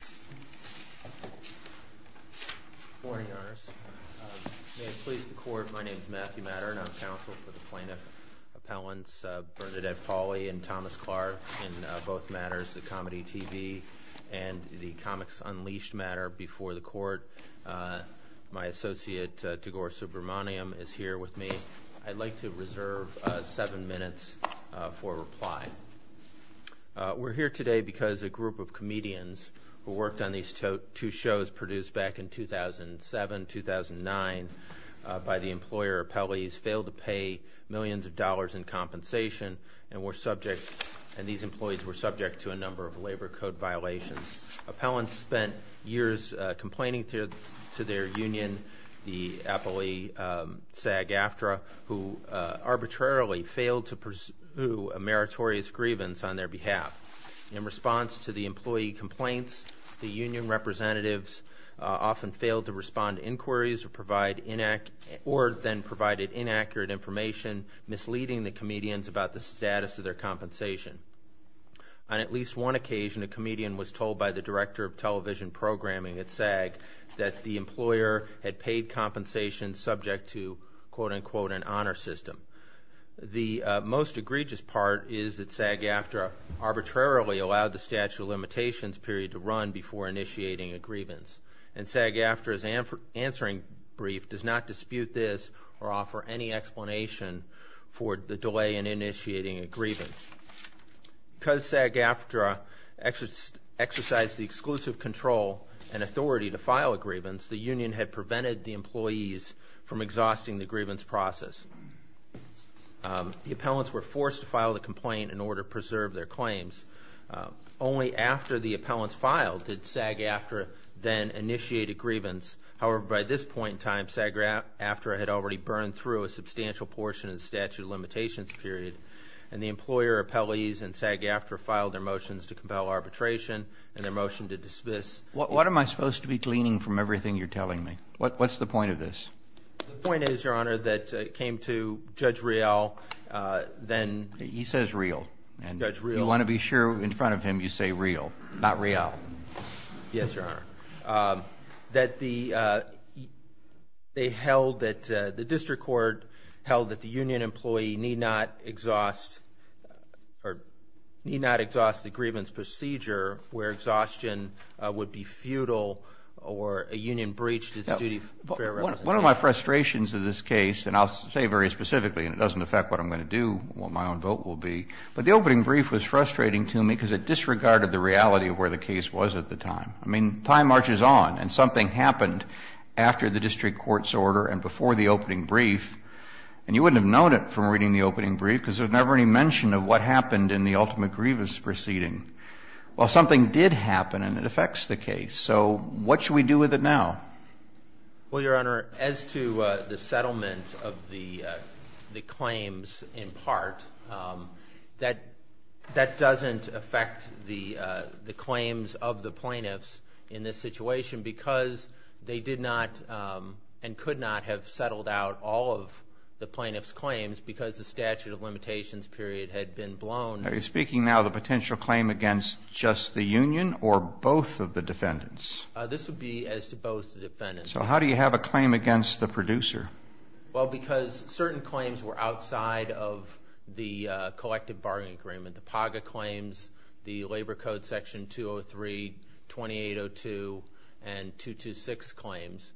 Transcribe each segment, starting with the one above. Good morning, Your Honors. May it please the Court, my name is Matthew Matter and I'm counsel for the Plaintiff Appellants Bernadette Pauley and Thomas Clark in both matters, the Comedy TV and the Comics Unleashed matter before the Court. My associate, Degore Subramaniam, is here with me. I'd like to reserve seven minutes for reply. We're here today because a group of comedians who worked on these two shows produced back in 2007-2009 by the employer, Appellees, failed to pay millions of dollars in compensation and these employees were subject to a number of labor code violations. Appellants spent years complaining to their union, the Appellee SAG-AFTRA, who arbitrarily failed to pursue a meritorious grievance on their behalf. In response to the employee complaints, the union representatives often failed to respond to inquiries or then provided inaccurate information, misleading the comedians about the status of their compensation. On at least one occasion, a comedian was told by the director of television programming at SAG that the employer had paid compensation subject to, quote-unquote, an honor system. The most egregious part is that SAG-AFTRA arbitrarily allowed the statute of limitations period to run before initiating a grievance. And SAG-AFTRA's answering brief does not dispute this or offer any explanation for the delay in initiating a grievance. Because SAG-AFTRA exercised the exclusive control and authority to file a grievance, the union had prevented the employees from exhausting the grievance process. The appellants were forced to file the complaint in order to preserve their claims. Only after the appellants filed did SAG-AFTRA then initiate a grievance. However, by this point in time, SAG-AFTRA had already burned through a substantial portion of the statute of limitations period. And the employer, appellees, and SAG-AFTRA filed their motions to compel arbitration and their motion to dismiss. What am I supposed to be gleaning from everything you're telling me? What's the point of this? The point is, Your Honor, that it came to Judge Rial then. He says Rial. Judge Rial. You want to be sure in front of him you say Rial, not Rial. Yes, Your Honor. That the district court held that the union employee need not exhaust the grievance procedure where exhaustion would be futile or a union breached its duty of fair representation. One of my frustrations of this case, and I'll say very specifically and it doesn't affect what I'm going to do, what my own vote will be, but the opening brief was frustrating to me because it disregarded the reality of where the case was at the time. I mean, time marches on and something happened after the district court's order and before the opening brief. And you wouldn't have known it from reading the opening brief because there's never any mention of what happened in the ultimate grievance proceeding. Well, something did happen and it affects the case. So what should we do with it now? Well, Your Honor, as to the settlement of the claims in part, that doesn't affect the claims of the plaintiffs in this situation because they did not and could not have settled out all of the plaintiffs' claims because the statute of limitations period had been blown. Are you speaking now of the potential claim against just the union or both of the defendants? This would be as to both the defendants. So how do you have a claim against the producer? Well, because certain claims were outside of the collective bargaining agreement. The PAGA claims, the Labor Code Section 203, 2802, and 226 claims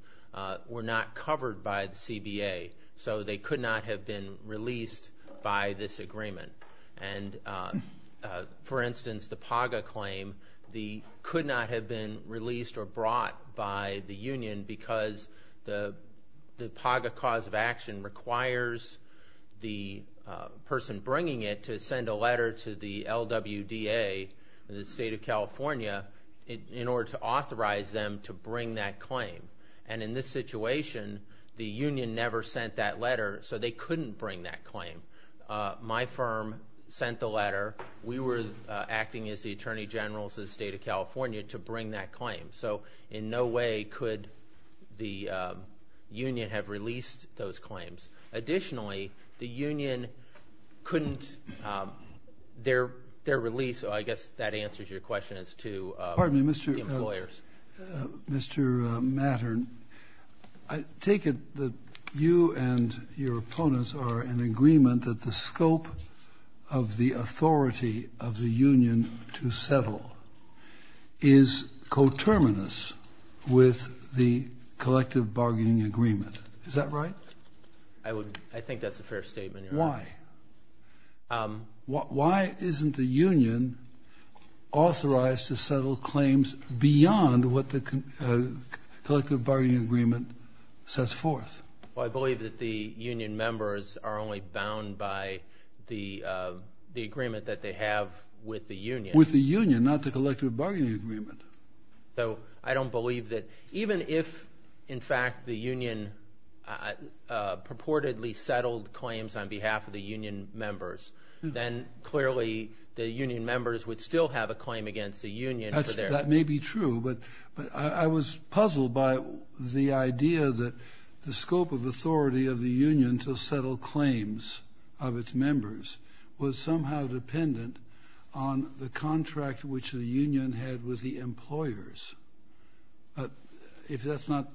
were not covered by the CBA. So they could not have been released by this agreement. And, for instance, the PAGA claim could not have been released or brought by the union because the PAGA cause of action requires the person bringing it to send a letter to the LWDA, the State of California, in order to authorize them to bring that claim. And in this situation, the union never sent that letter, so they couldn't bring that claim. My firm sent the letter. We were acting as the attorney generals of the State of California to bring that claim. So in no way could the union have released those claims. Additionally, the union couldn't. Their release, I guess that answers your question, is to the employers. Mr. Mattern, I take it that you and your opponents are in agreement that the scope of the authority of the union to settle is coterminous with the collective bargaining agreement. Is that right? I think that's a fair statement, Your Honor. Why? Why isn't the union authorized to settle claims beyond what the collective bargaining agreement sets forth? Well, I believe that the union members are only bound by the agreement that they have with the union. With the union, not the collective bargaining agreement. So I don't believe that even if, in fact, the union purportedly settled claims on behalf of the union members, then clearly the union members would still have a claim against the union. That may be true. But I was puzzled by the idea that the scope of authority of the union to settle claims of its members was somehow dependent on the contract which the union had with the employers. If that's not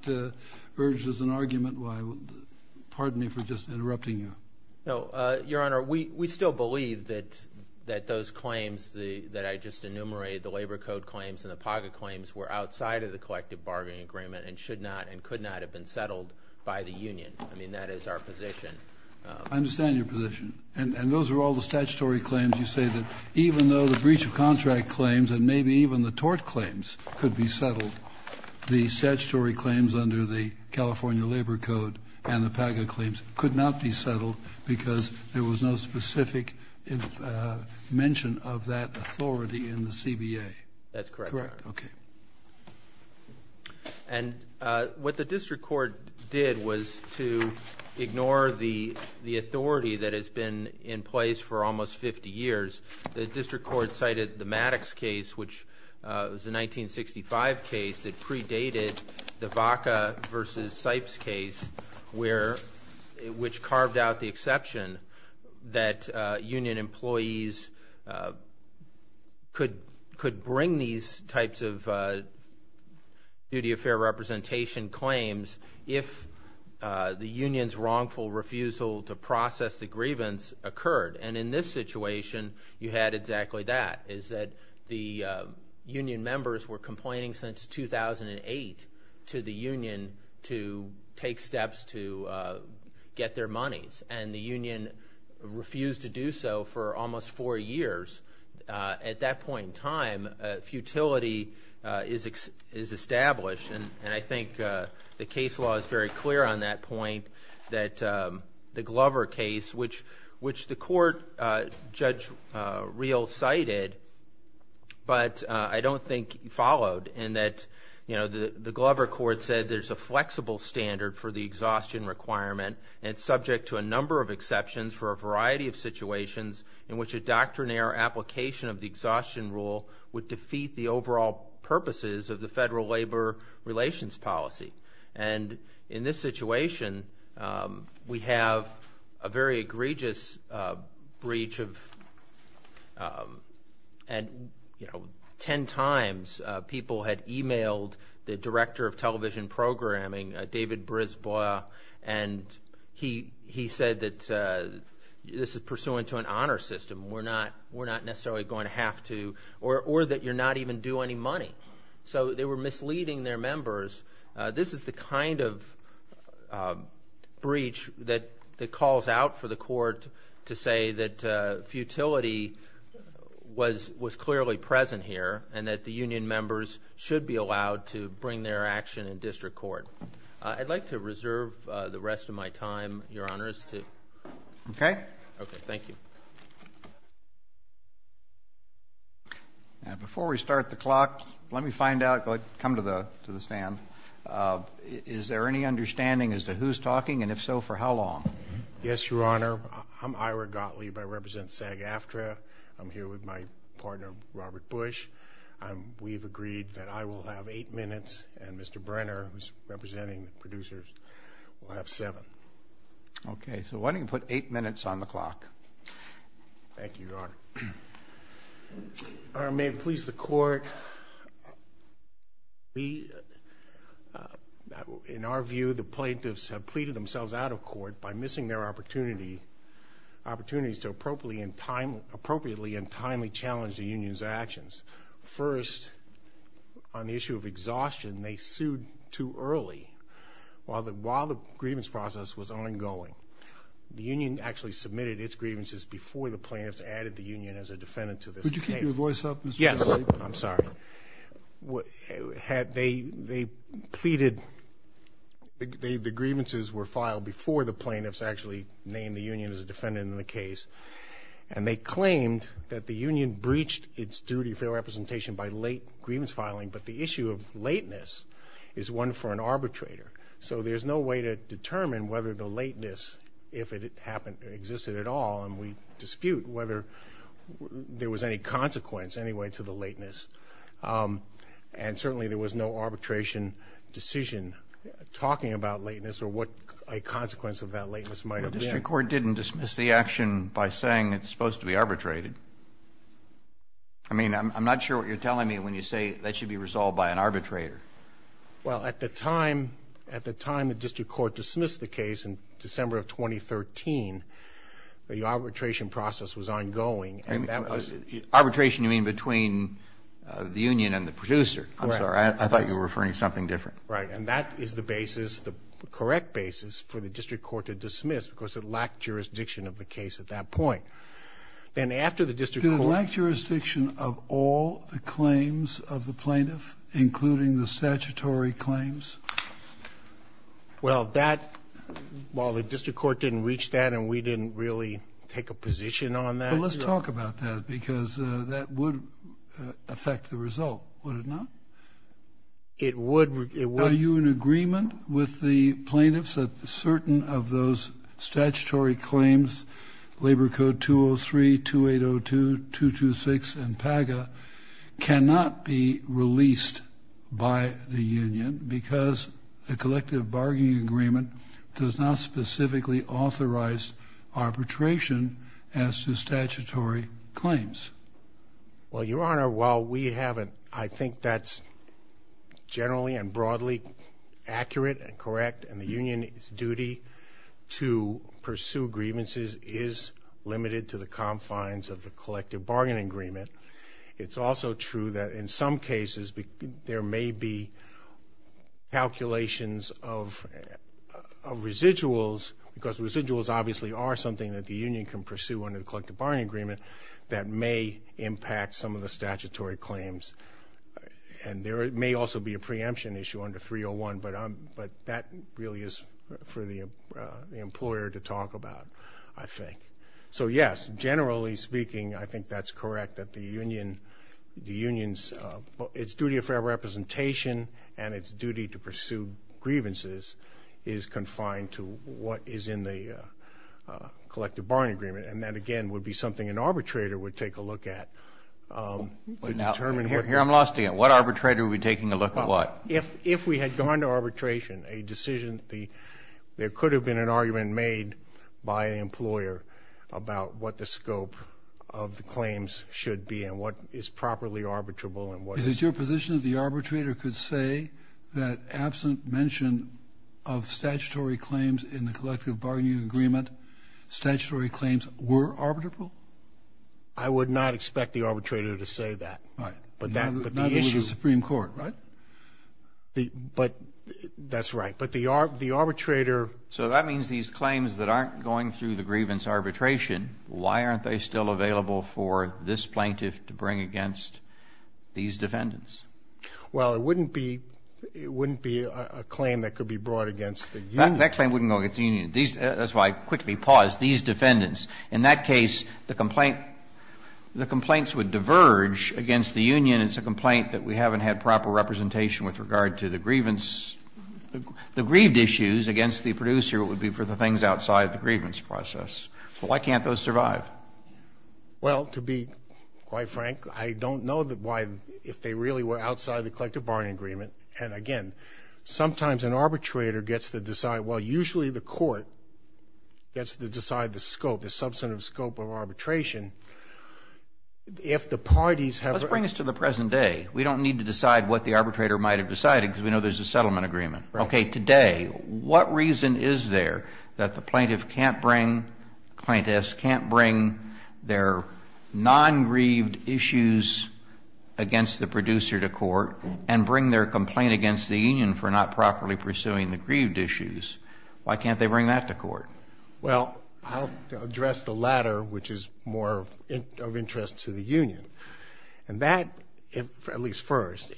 urged as an argument, pardon me for just interrupting you. No, Your Honor, we still believe that those claims that I just enumerated, the labor code claims and the pocket claims, were outside of the collective bargaining agreement and should not and could not have been settled by the union. I mean, that is our position. I understand your position. And those are all the statutory claims you say that even though the breach of contract claims and maybe even the tort claims could be settled, the statutory claims under the California Labor Code and the pocket claims could not be settled because there was no specific mention of that authority in the CBA. That's correct. Okay. And what the district court did was to ignore the authority that has been in place for almost 50 years. The district court cited the Maddox case, which was a 1965 case that predated the Vaca v. Sipes case, which carved out the exception that union employees could bring these types of duty of fair representation claims if the union's wrongful refusal to process the grievance occurred. And in this situation, you had exactly that, is that the union members were complaining since 2008 to the union to take steps to get their monies. And the union refused to do so for almost four years. At that point in time, futility is established. And I think the case law is very clear on that point, that the Glover case, which the court Judge Reel cited but I don't think followed, in that the Glover court said there's a flexible standard for the exhaustion requirement and it's subject to a number of exceptions for a variety of situations in which a doctrinaire application of the exhaustion rule would defeat the overall purposes of the federal labor relations policy. And in this situation, we have a very egregious breach of, you know, ten times people had emailed the director of television programming, David Brisbois, and he said that this is pursuant to an honor system. We're not necessarily going to have to or that you're not even due any money. So they were misleading their members. This is the kind of breach that calls out for the court to say that futility was clearly present here and that the union members should be allowed to bring their action in district court. I'd like to reserve the rest of my time, Your Honors, to... Before we start the clock, let me find out, come to the stand, is there any understanding as to who's talking and if so, for how long? Yes, Your Honor. I'm Ira Gottlieb. I represent SAG-AFTRA. I'm here with my partner, Robert Bush. We've agreed that I will have eight minutes and Mr. Brenner, who's representing the producers, will have seven. Okay. So why don't you put eight minutes on the clock? Thank you, Your Honor. Your Honor, may it please the court, we, in our view, the plaintiffs have pleaded themselves out of court by missing their opportunities to appropriately and timely challenge the union's actions. First, on the issue of exhaustion, they sued too early. While the grievance process was ongoing, the union actually submitted its grievances before the plaintiffs added the union as a defendant to this case. Could you keep your voice up, please? Yes. I'm sorry. They pleaded, the grievances were filed before the plaintiffs actually named the union as a defendant in the case, and they claimed that the union breached its duty of fair representation by late grievance filing, but the issue of lateness is one for an arbitrator. So there's no way to determine whether the lateness, if it existed at all, and we dispute whether there was any consequence anyway to the lateness, and certainly there was no arbitration decision talking about lateness or what a consequence of that lateness might have been. The district court didn't dismiss the action by saying it's supposed to be arbitrated. I mean, I'm not sure what you're telling me when you say that should be resolved by an arbitrator. Well, at the time, at the time the district court dismissed the case in December of 2013, the arbitration process was ongoing. Arbitration you mean between the union and the producer. Correct. I'm sorry. I thought you were referring to something different. Right. And that is the basis, the correct basis for the district court to dismiss because it lacked jurisdiction of the case at that point. Then after the district court ---- It lacked jurisdiction of all the claims of the plaintiff, including the statutory claims. Well, that, while the district court didn't reach that and we didn't really take a position on that. But let's talk about that because that would affect the result, would it not? It would. Are you in agreement with the plaintiffs that certain of those statutory claims, Labor Code 203, 2802, 226 and PAGA cannot be released by the union because the collective bargaining agreement does not specifically authorize arbitration as to statutory claims? Well, Your Honor, while we haven't, I think that's generally and broadly accurate and correct and the union's duty to pursue grievances is limited to the confines of the collective bargaining agreement. It's also true that in some cases there may be calculations of residuals because residuals obviously are something that the union can pursue under the collective bargaining agreement that may impact some of the statutory claims. And there may also be a preemption issue under 301, but that really is for the employer to talk about, I think. So, yes, generally speaking, I think that's correct that the union's duty of fair representation and its duty to pursue grievances is confined to what is in the collective bargaining agreement. And that, again, would be something an arbitrator would take a look at to determine what the... Now, here I'm lost again. What arbitrator would be taking a look at what? If we had gone to arbitration, a decision, there could have been an argument made by an employer about what the scope of the claims should be and what is properly arbitrable and what is... Is it your position that the arbitrator could say that absent mention of statutory claims in the collective bargaining agreement, statutory claims were arbitrable? I would not expect the arbitrator to say that. Right. But the issue... Not even with the Supreme Court, right? But that's right. But the arbitrator... So that means these claims that aren't going through the grievance arbitration, why aren't they still available for this plaintiff to bring against these defendants? Well, it wouldn't be a claim that could be brought against the union. That claim wouldn't go against the union. That's why I quickly paused. These defendants. In that case, the complaint, the complaints would diverge against the union. It's a complaint that we haven't had proper representation with regard to the grievance the grieved issues against the producer. It would be for the things outside the grievance process. So why can't those survive? Well, to be quite frank, I don't know why, if they really were outside the collective bargaining agreement, and again, sometimes an arbitrator gets to decide, well, usually the court gets to decide the scope, the substantive scope of arbitration. If the parties have... Let's bring this to the present day. We don't need to decide what the arbitrator might have decided because we know there's a settlement agreement. Right. Okay. Today, what reason is there that the plaintiff can't bring, plaintiffs can't bring their non-grieved issues against the producer to court and bring their complaint against the union for not properly pursuing the grieved issues, why can't they bring that to court? Well, I'll address the latter, which is more of interest to the union. And that, at least first,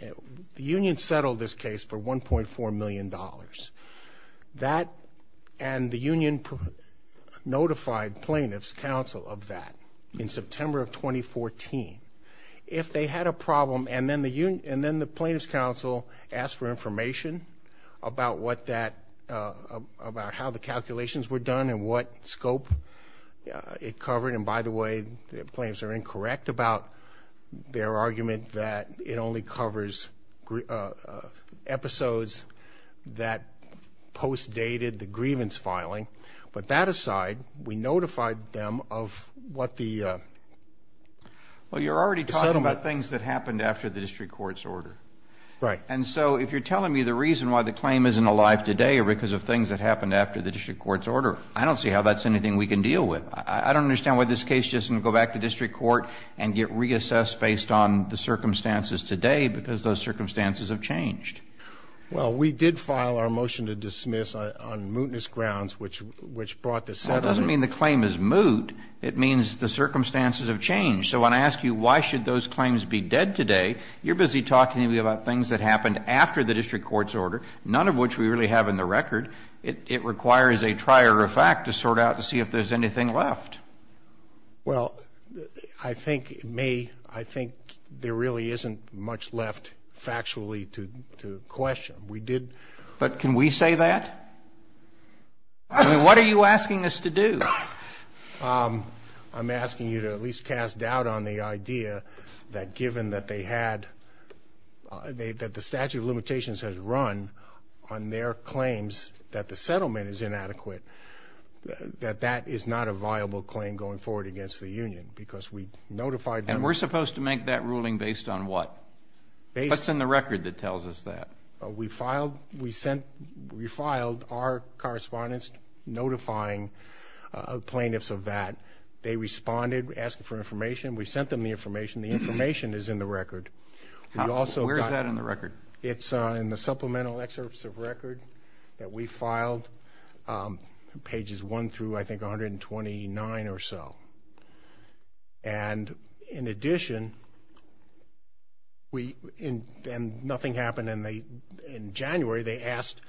the union settled this case for $1.4 million. That and the union notified plaintiff's counsel of that in September of 2014. If they had a problem and then the plaintiff's counsel asked for information about what that, about how the calculations were done and what scope it covered. And by the way, the plaintiffs are incorrect about their argument that it only covers episodes that post-dated the grievance filing. But that aside, we notified them of what the settlement... Well, you're already talking about things that happened after the district court's order. Right. And so if you're telling me the reason why the claim isn't alive today or because of things that happened after the district court's order, I don't see how that's anything we can deal with. I don't understand why this case doesn't go back to district court and get reassessed based on the circumstances today, because those circumstances have changed. Well, we did file our motion to dismiss on mootness grounds, which brought the settlement. Well, it doesn't mean the claim is moot. It means the circumstances have changed. So when I ask you why should those claims be dead today, you're busy talking to me about things that happened after the district court's order, none of which we really have in the record. It requires a trier of fact to sort out to see if there's anything left. Well, I think there really isn't much left factually to question. We did... But can we say that? I mean, what are you asking us to do? I'm asking you to at least cast doubt on the idea that given that they had... that the statute of limitations has run on their claims that the settlement is inadequate, that that is not a viable claim going forward against the union, because we notified them... And we're supposed to make that ruling based on what? What's in the record that tells us that? We filed our correspondence notifying plaintiffs of that. They responded, asked for information. We sent them the information. Where's that in the record? It's in the supplemental excerpts of record that we filed, pages 1 through, I think, 129 or so. And in addition, we... And nothing happened in January. They asked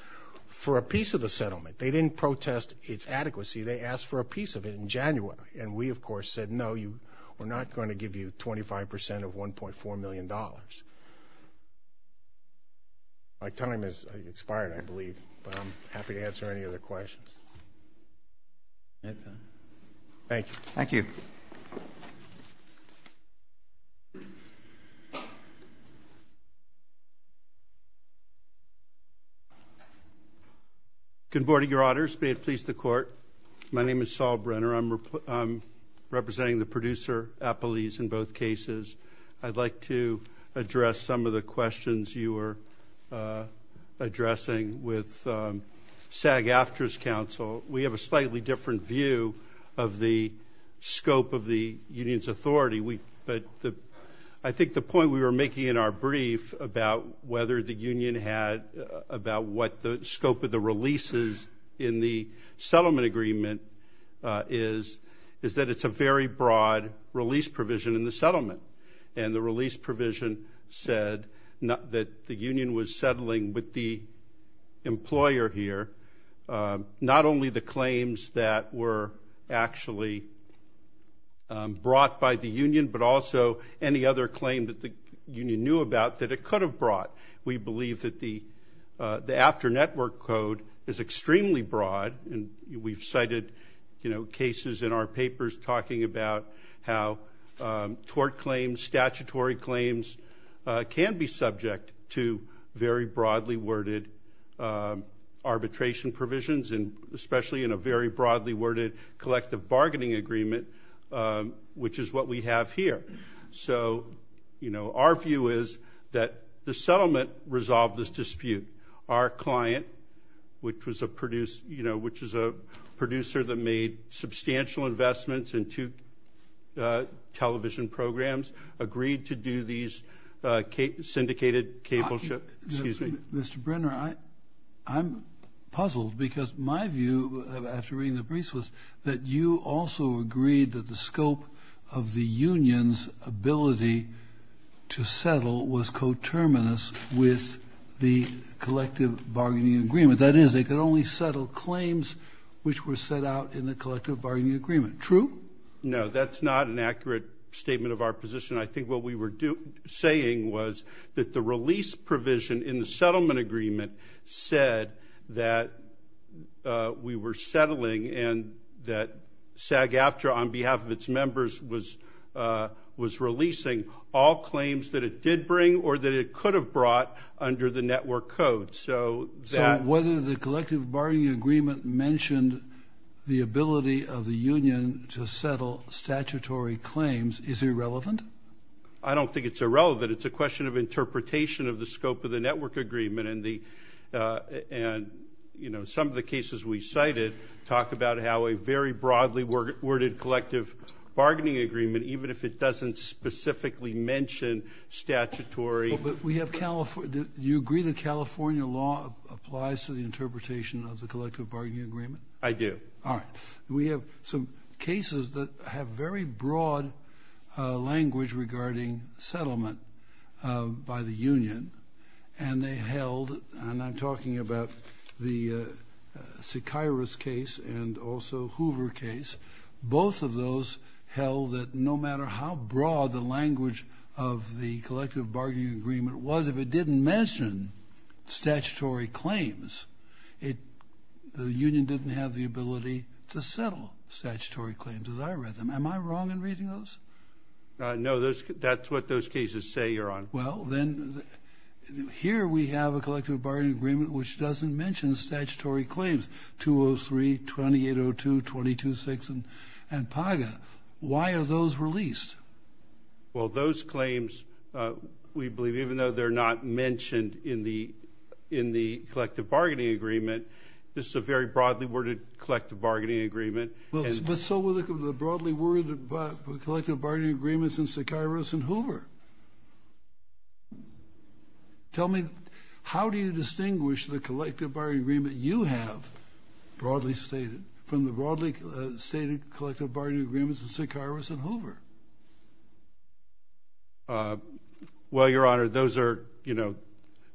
for a piece of the settlement. They didn't protest its adequacy. They asked for a piece of it in January. And we, of course, said, no, we're not going to give you 25% of $1.4 million. My time has expired, I believe, but I'm happy to answer any other questions. Thank you. Good morning, Your Honors. May it please the Court. My name is Saul Brenner. I'm representing the producer, Appleese, in both cases. I'd like to address some of the questions you were addressing with SAG-AFTRA's counsel. We have a slightly different view of the scope of the union's authority. But I think the point we were making in our brief about whether the union had... is that it's a very broad release provision in the settlement. And the release provision said that the union was settling with the employer here, not only the claims that were actually brought by the union, but also any other claim that the union knew about that it could have brought. We believe that the AFTRA network code is extremely broad. And we've cited cases in our papers talking about how tort claims, statutory claims, can be subject to very broadly worded arbitration provisions, especially in a very broadly worded collective bargaining agreement, which is what we have here. So our view is that the settlement resolved this dispute. Our client, which was a producer that made substantial investments in two television programs, agreed to do these syndicated cable... Excuse me. Mr. Brenner, I'm puzzled because my view, after reading the briefs, that you also agreed that the scope of the union's ability to settle was coterminous with the collective bargaining agreement. That is, they could only settle claims which were set out in the collective bargaining agreement. True? No, that's not an accurate statement of our position. I think what we were saying was that the release provision in the settlement agreement said that we were settling and that SAG-AFTRA, on behalf of its members, was releasing all claims that it did bring or that it could have brought under the network code. So whether the collective bargaining agreement mentioned the ability of the union to settle statutory claims is irrelevant? I don't think it's irrelevant. It's a question of interpretation of the scope of the network agreement. And some of the cases we cited talk about how a very broadly worded collective bargaining agreement, even if it doesn't specifically mention statutory... Do you agree that California law applies to the interpretation of the collective bargaining agreement? I do. All right. We have some cases that have very broad language regarding settlement by the union, and they held, and I'm talking about the Sykairos case and also Hoover case, both of those held that no matter how broad the language of the collective bargaining agreement was, if it didn't mention statutory claims, the union didn't have the ability to settle statutory claims as I read them. Am I wrong in reading those? No. That's what those cases say, Your Honor. Well, then here we have a collective bargaining agreement which doesn't mention statutory claims, 203, 2802, 226, and PAGA. Why are those released? Well, those claims, we believe, even though they're not mentioned in the collective bargaining agreement, this is a very broadly worded collective bargaining agreement. But so were the broadly worded collective bargaining agreements in Sykairos and Hoover. Tell me, how do you distinguish the collective bargaining agreement you have, broadly stated, from the broadly stated collective bargaining agreements in Sykairos and Hoover? Well, Your Honor, those are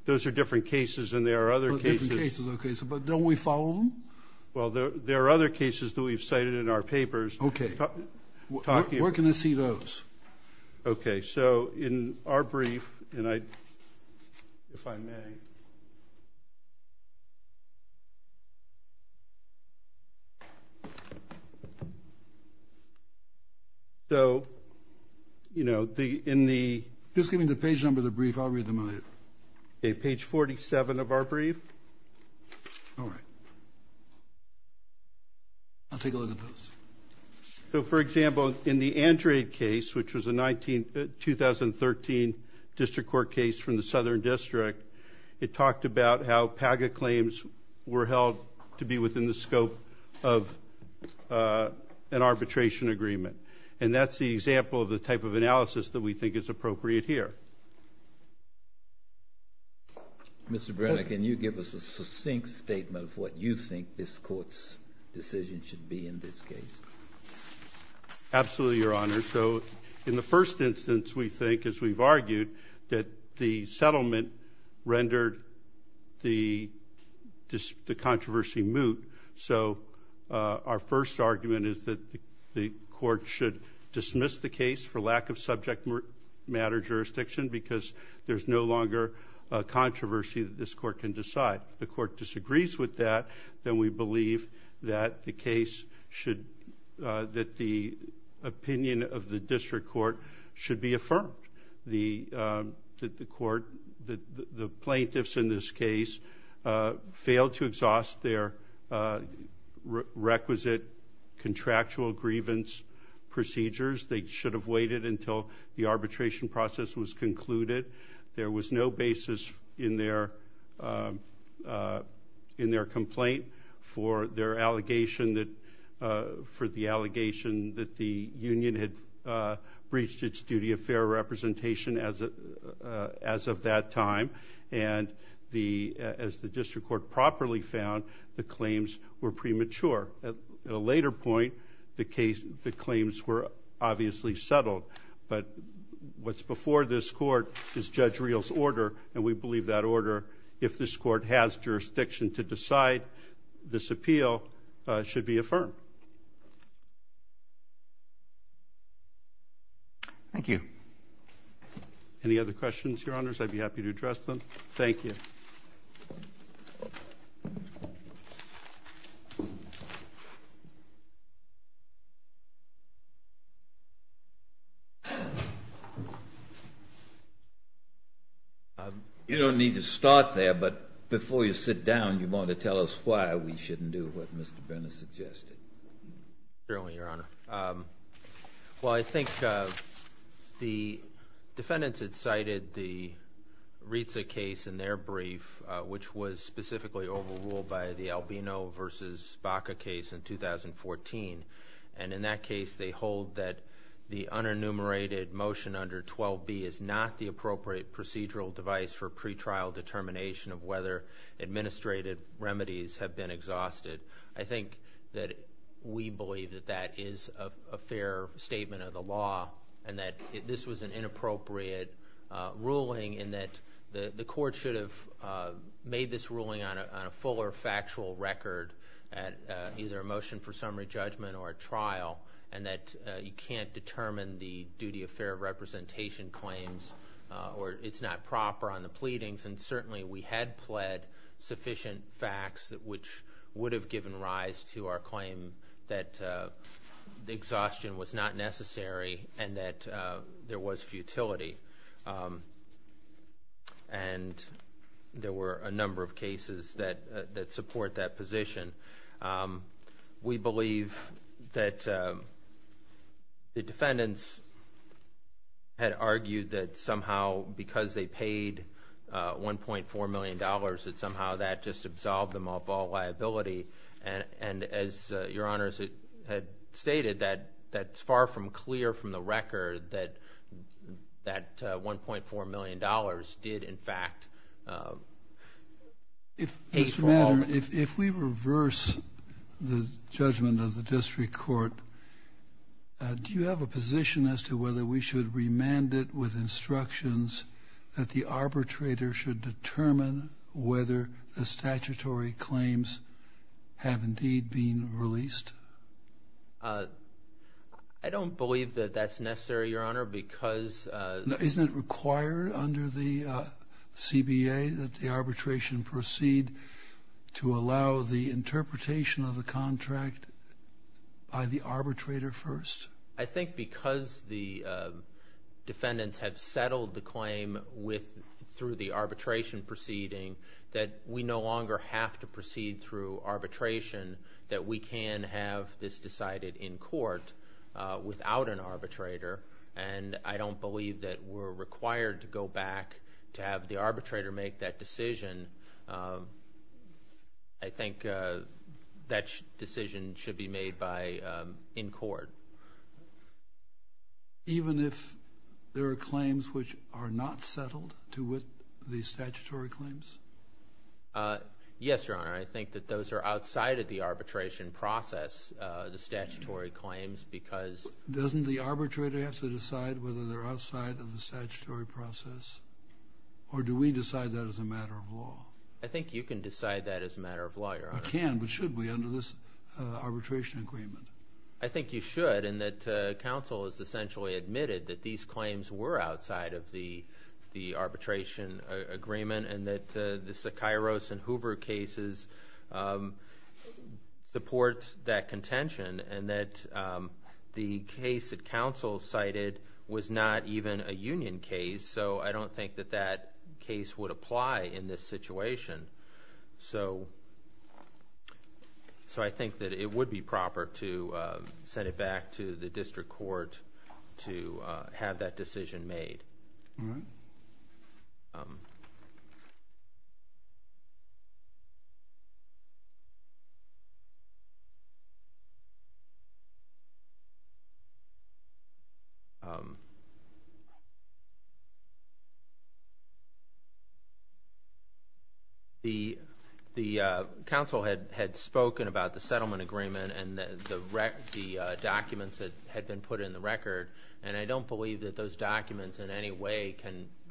different cases, and there are other cases. Different cases, okay. But don't we follow them? Well, there are other cases that we've cited in our papers. Okay. Where can I see those? Okay, so in our brief, and I, if I may. So, you know, in the... Just give me the page number of the brief. I'll read them on it. Okay, page 47 of our brief. All right. I'll take a look at those. So, for example, in the Andrade case, which was a 2013 district court case from the Southern District, it talked about how PAGA claims were held to be within the scope of an arbitration agreement. And that's the example of the type of analysis that we think is appropriate here. Mr. Brenner, can you give us a succinct statement of what you think this court's decision should be in this case? Absolutely, Your Honor. So in the first instance, we think, as we've argued, that the settlement rendered the controversy moot. So our first argument is that the court should dismiss the case for lack of subject matter jurisdiction because there's no longer a controversy that this court can decide. If the court disagrees with that, then we believe that the case should, that the opinion of the district court should be affirmed. The court, the plaintiffs in this case, failed to exhaust their requisite contractual grievance procedures. They should have waited until the arbitration process was concluded. There was no basis in their complaint for their allegation that, for the allegation that the union had breached its duty of fair representation as of that time. And as the district court properly found, the claims were premature. At a later point, the claims were obviously settled. But what's before this court is Judge Real's order, and we believe that order, if this court has jurisdiction to decide this appeal, should be affirmed. Thank you. Any other questions, Your Honors? I'd be happy to address them. Thank you. You don't need to start there, but before you sit down, you want to tell us why we shouldn't do what Mr. Brenner suggested. Certainly, Your Honor. Well, I think the defendants had cited the Rizza case in their brief, which was specifically overruled by the Albino v. Baca case in 2014. And in that case, they hold that the unenumerated motion under 12B is not the appropriate procedural device for pretrial determination of whether administrative remedies have been exhausted. I think that we believe that that is a fair statement of the law and that this was an inappropriate ruling in that the court should have made this ruling on a fuller factual record, either a motion for summary judgment or a trial, and that you can't determine the duty of fair representation claims or it's not proper on the pleadings. And certainly, we had pled sufficient facts, which would have given rise to our claim that the exhaustion was not necessary and that there was futility. And there were a number of cases that support that position. We believe that the defendants had argued that somehow, because they paid $1.4 million, that somehow that just absolved them of all liability. And as Your Honors had stated, that's far from clear from the record that that $1.4 million did, in fact, take from all of it. If we reverse the judgment of the district court, do you have a position as to whether we should remand it with instructions that the arbitrator should determine whether the statutory claims have indeed been released? I don't believe that that's necessary, Your Honor, because— Isn't it required under the CBA that the arbitration proceed to allow the interpretation of the contract by the arbitrator first? I think because the defendants have settled the claim through the arbitration proceeding, that we no longer have to proceed through arbitration that we can have this decided in court without an arbitrator. And I don't believe that we're required to go back to have the arbitrator make that decision. I think that decision should be made in court. Even if there are claims which are not settled to with the statutory claims? Yes, Your Honor. I think that those are outside of the arbitration process, the statutory claims, because— Does the arbitrator have to decide whether they're outside of the statutory process, or do we decide that as a matter of law? I think you can decide that as a matter of law, Your Honor. I can, but should we, under this arbitration agreement? I think you should, in that counsel has essentially admitted that these claims were outside of the arbitration agreement and that the Sekairos and Hoover cases support that contention and that the case that counsel cited was not even a union case, so I don't think that that case would apply in this situation. So I think that it would be proper to send it back to the district court to have that decision made. The counsel had spoken about the settlement agreement and the documents that had been put in the record, and I don't believe that those documents in any way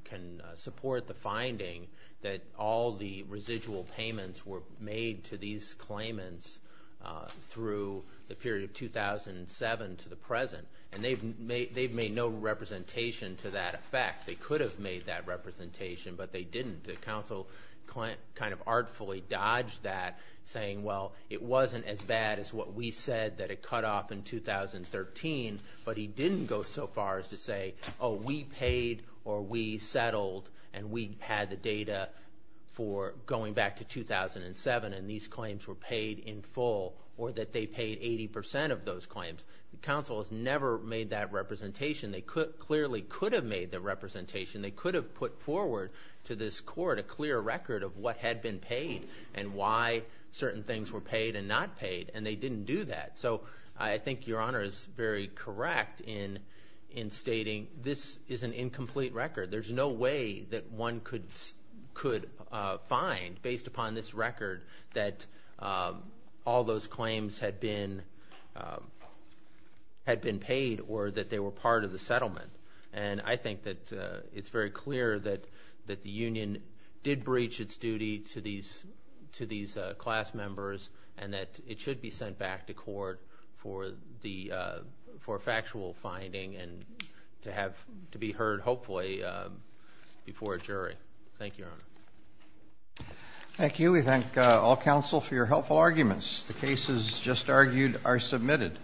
can support the finding that all the residual payments were made to these claimants through the period of 2007 to the present, and they've made no representation to that effect. They could have made that representation, but they didn't. The counsel kind of artfully dodged that, saying, well, it wasn't as bad as what we said that it cut off in 2013, but he didn't go so far as to say, oh, we paid or we settled and we had the data for going back to 2007 and these claims were paid in full or that they paid 80% of those claims. The counsel has never made that representation. They clearly could have made the representation. They could have put forward to this court a clear record of what had been paid and why certain things were paid and not paid, and they didn't do that. So I think Your Honor is very correct in stating this is an incomplete record. There's no way that one could find, based upon this record, that all those claims had been paid or that they were part of the settlement, and I think that it's very clear that the union did breach its duty to these class members and that it should be sent back to court for factual finding and to be heard, hopefully, before a jury. Thank you, Your Honor. Thank you. We thank all counsel for your helpful arguments. The cases just argued are submitted.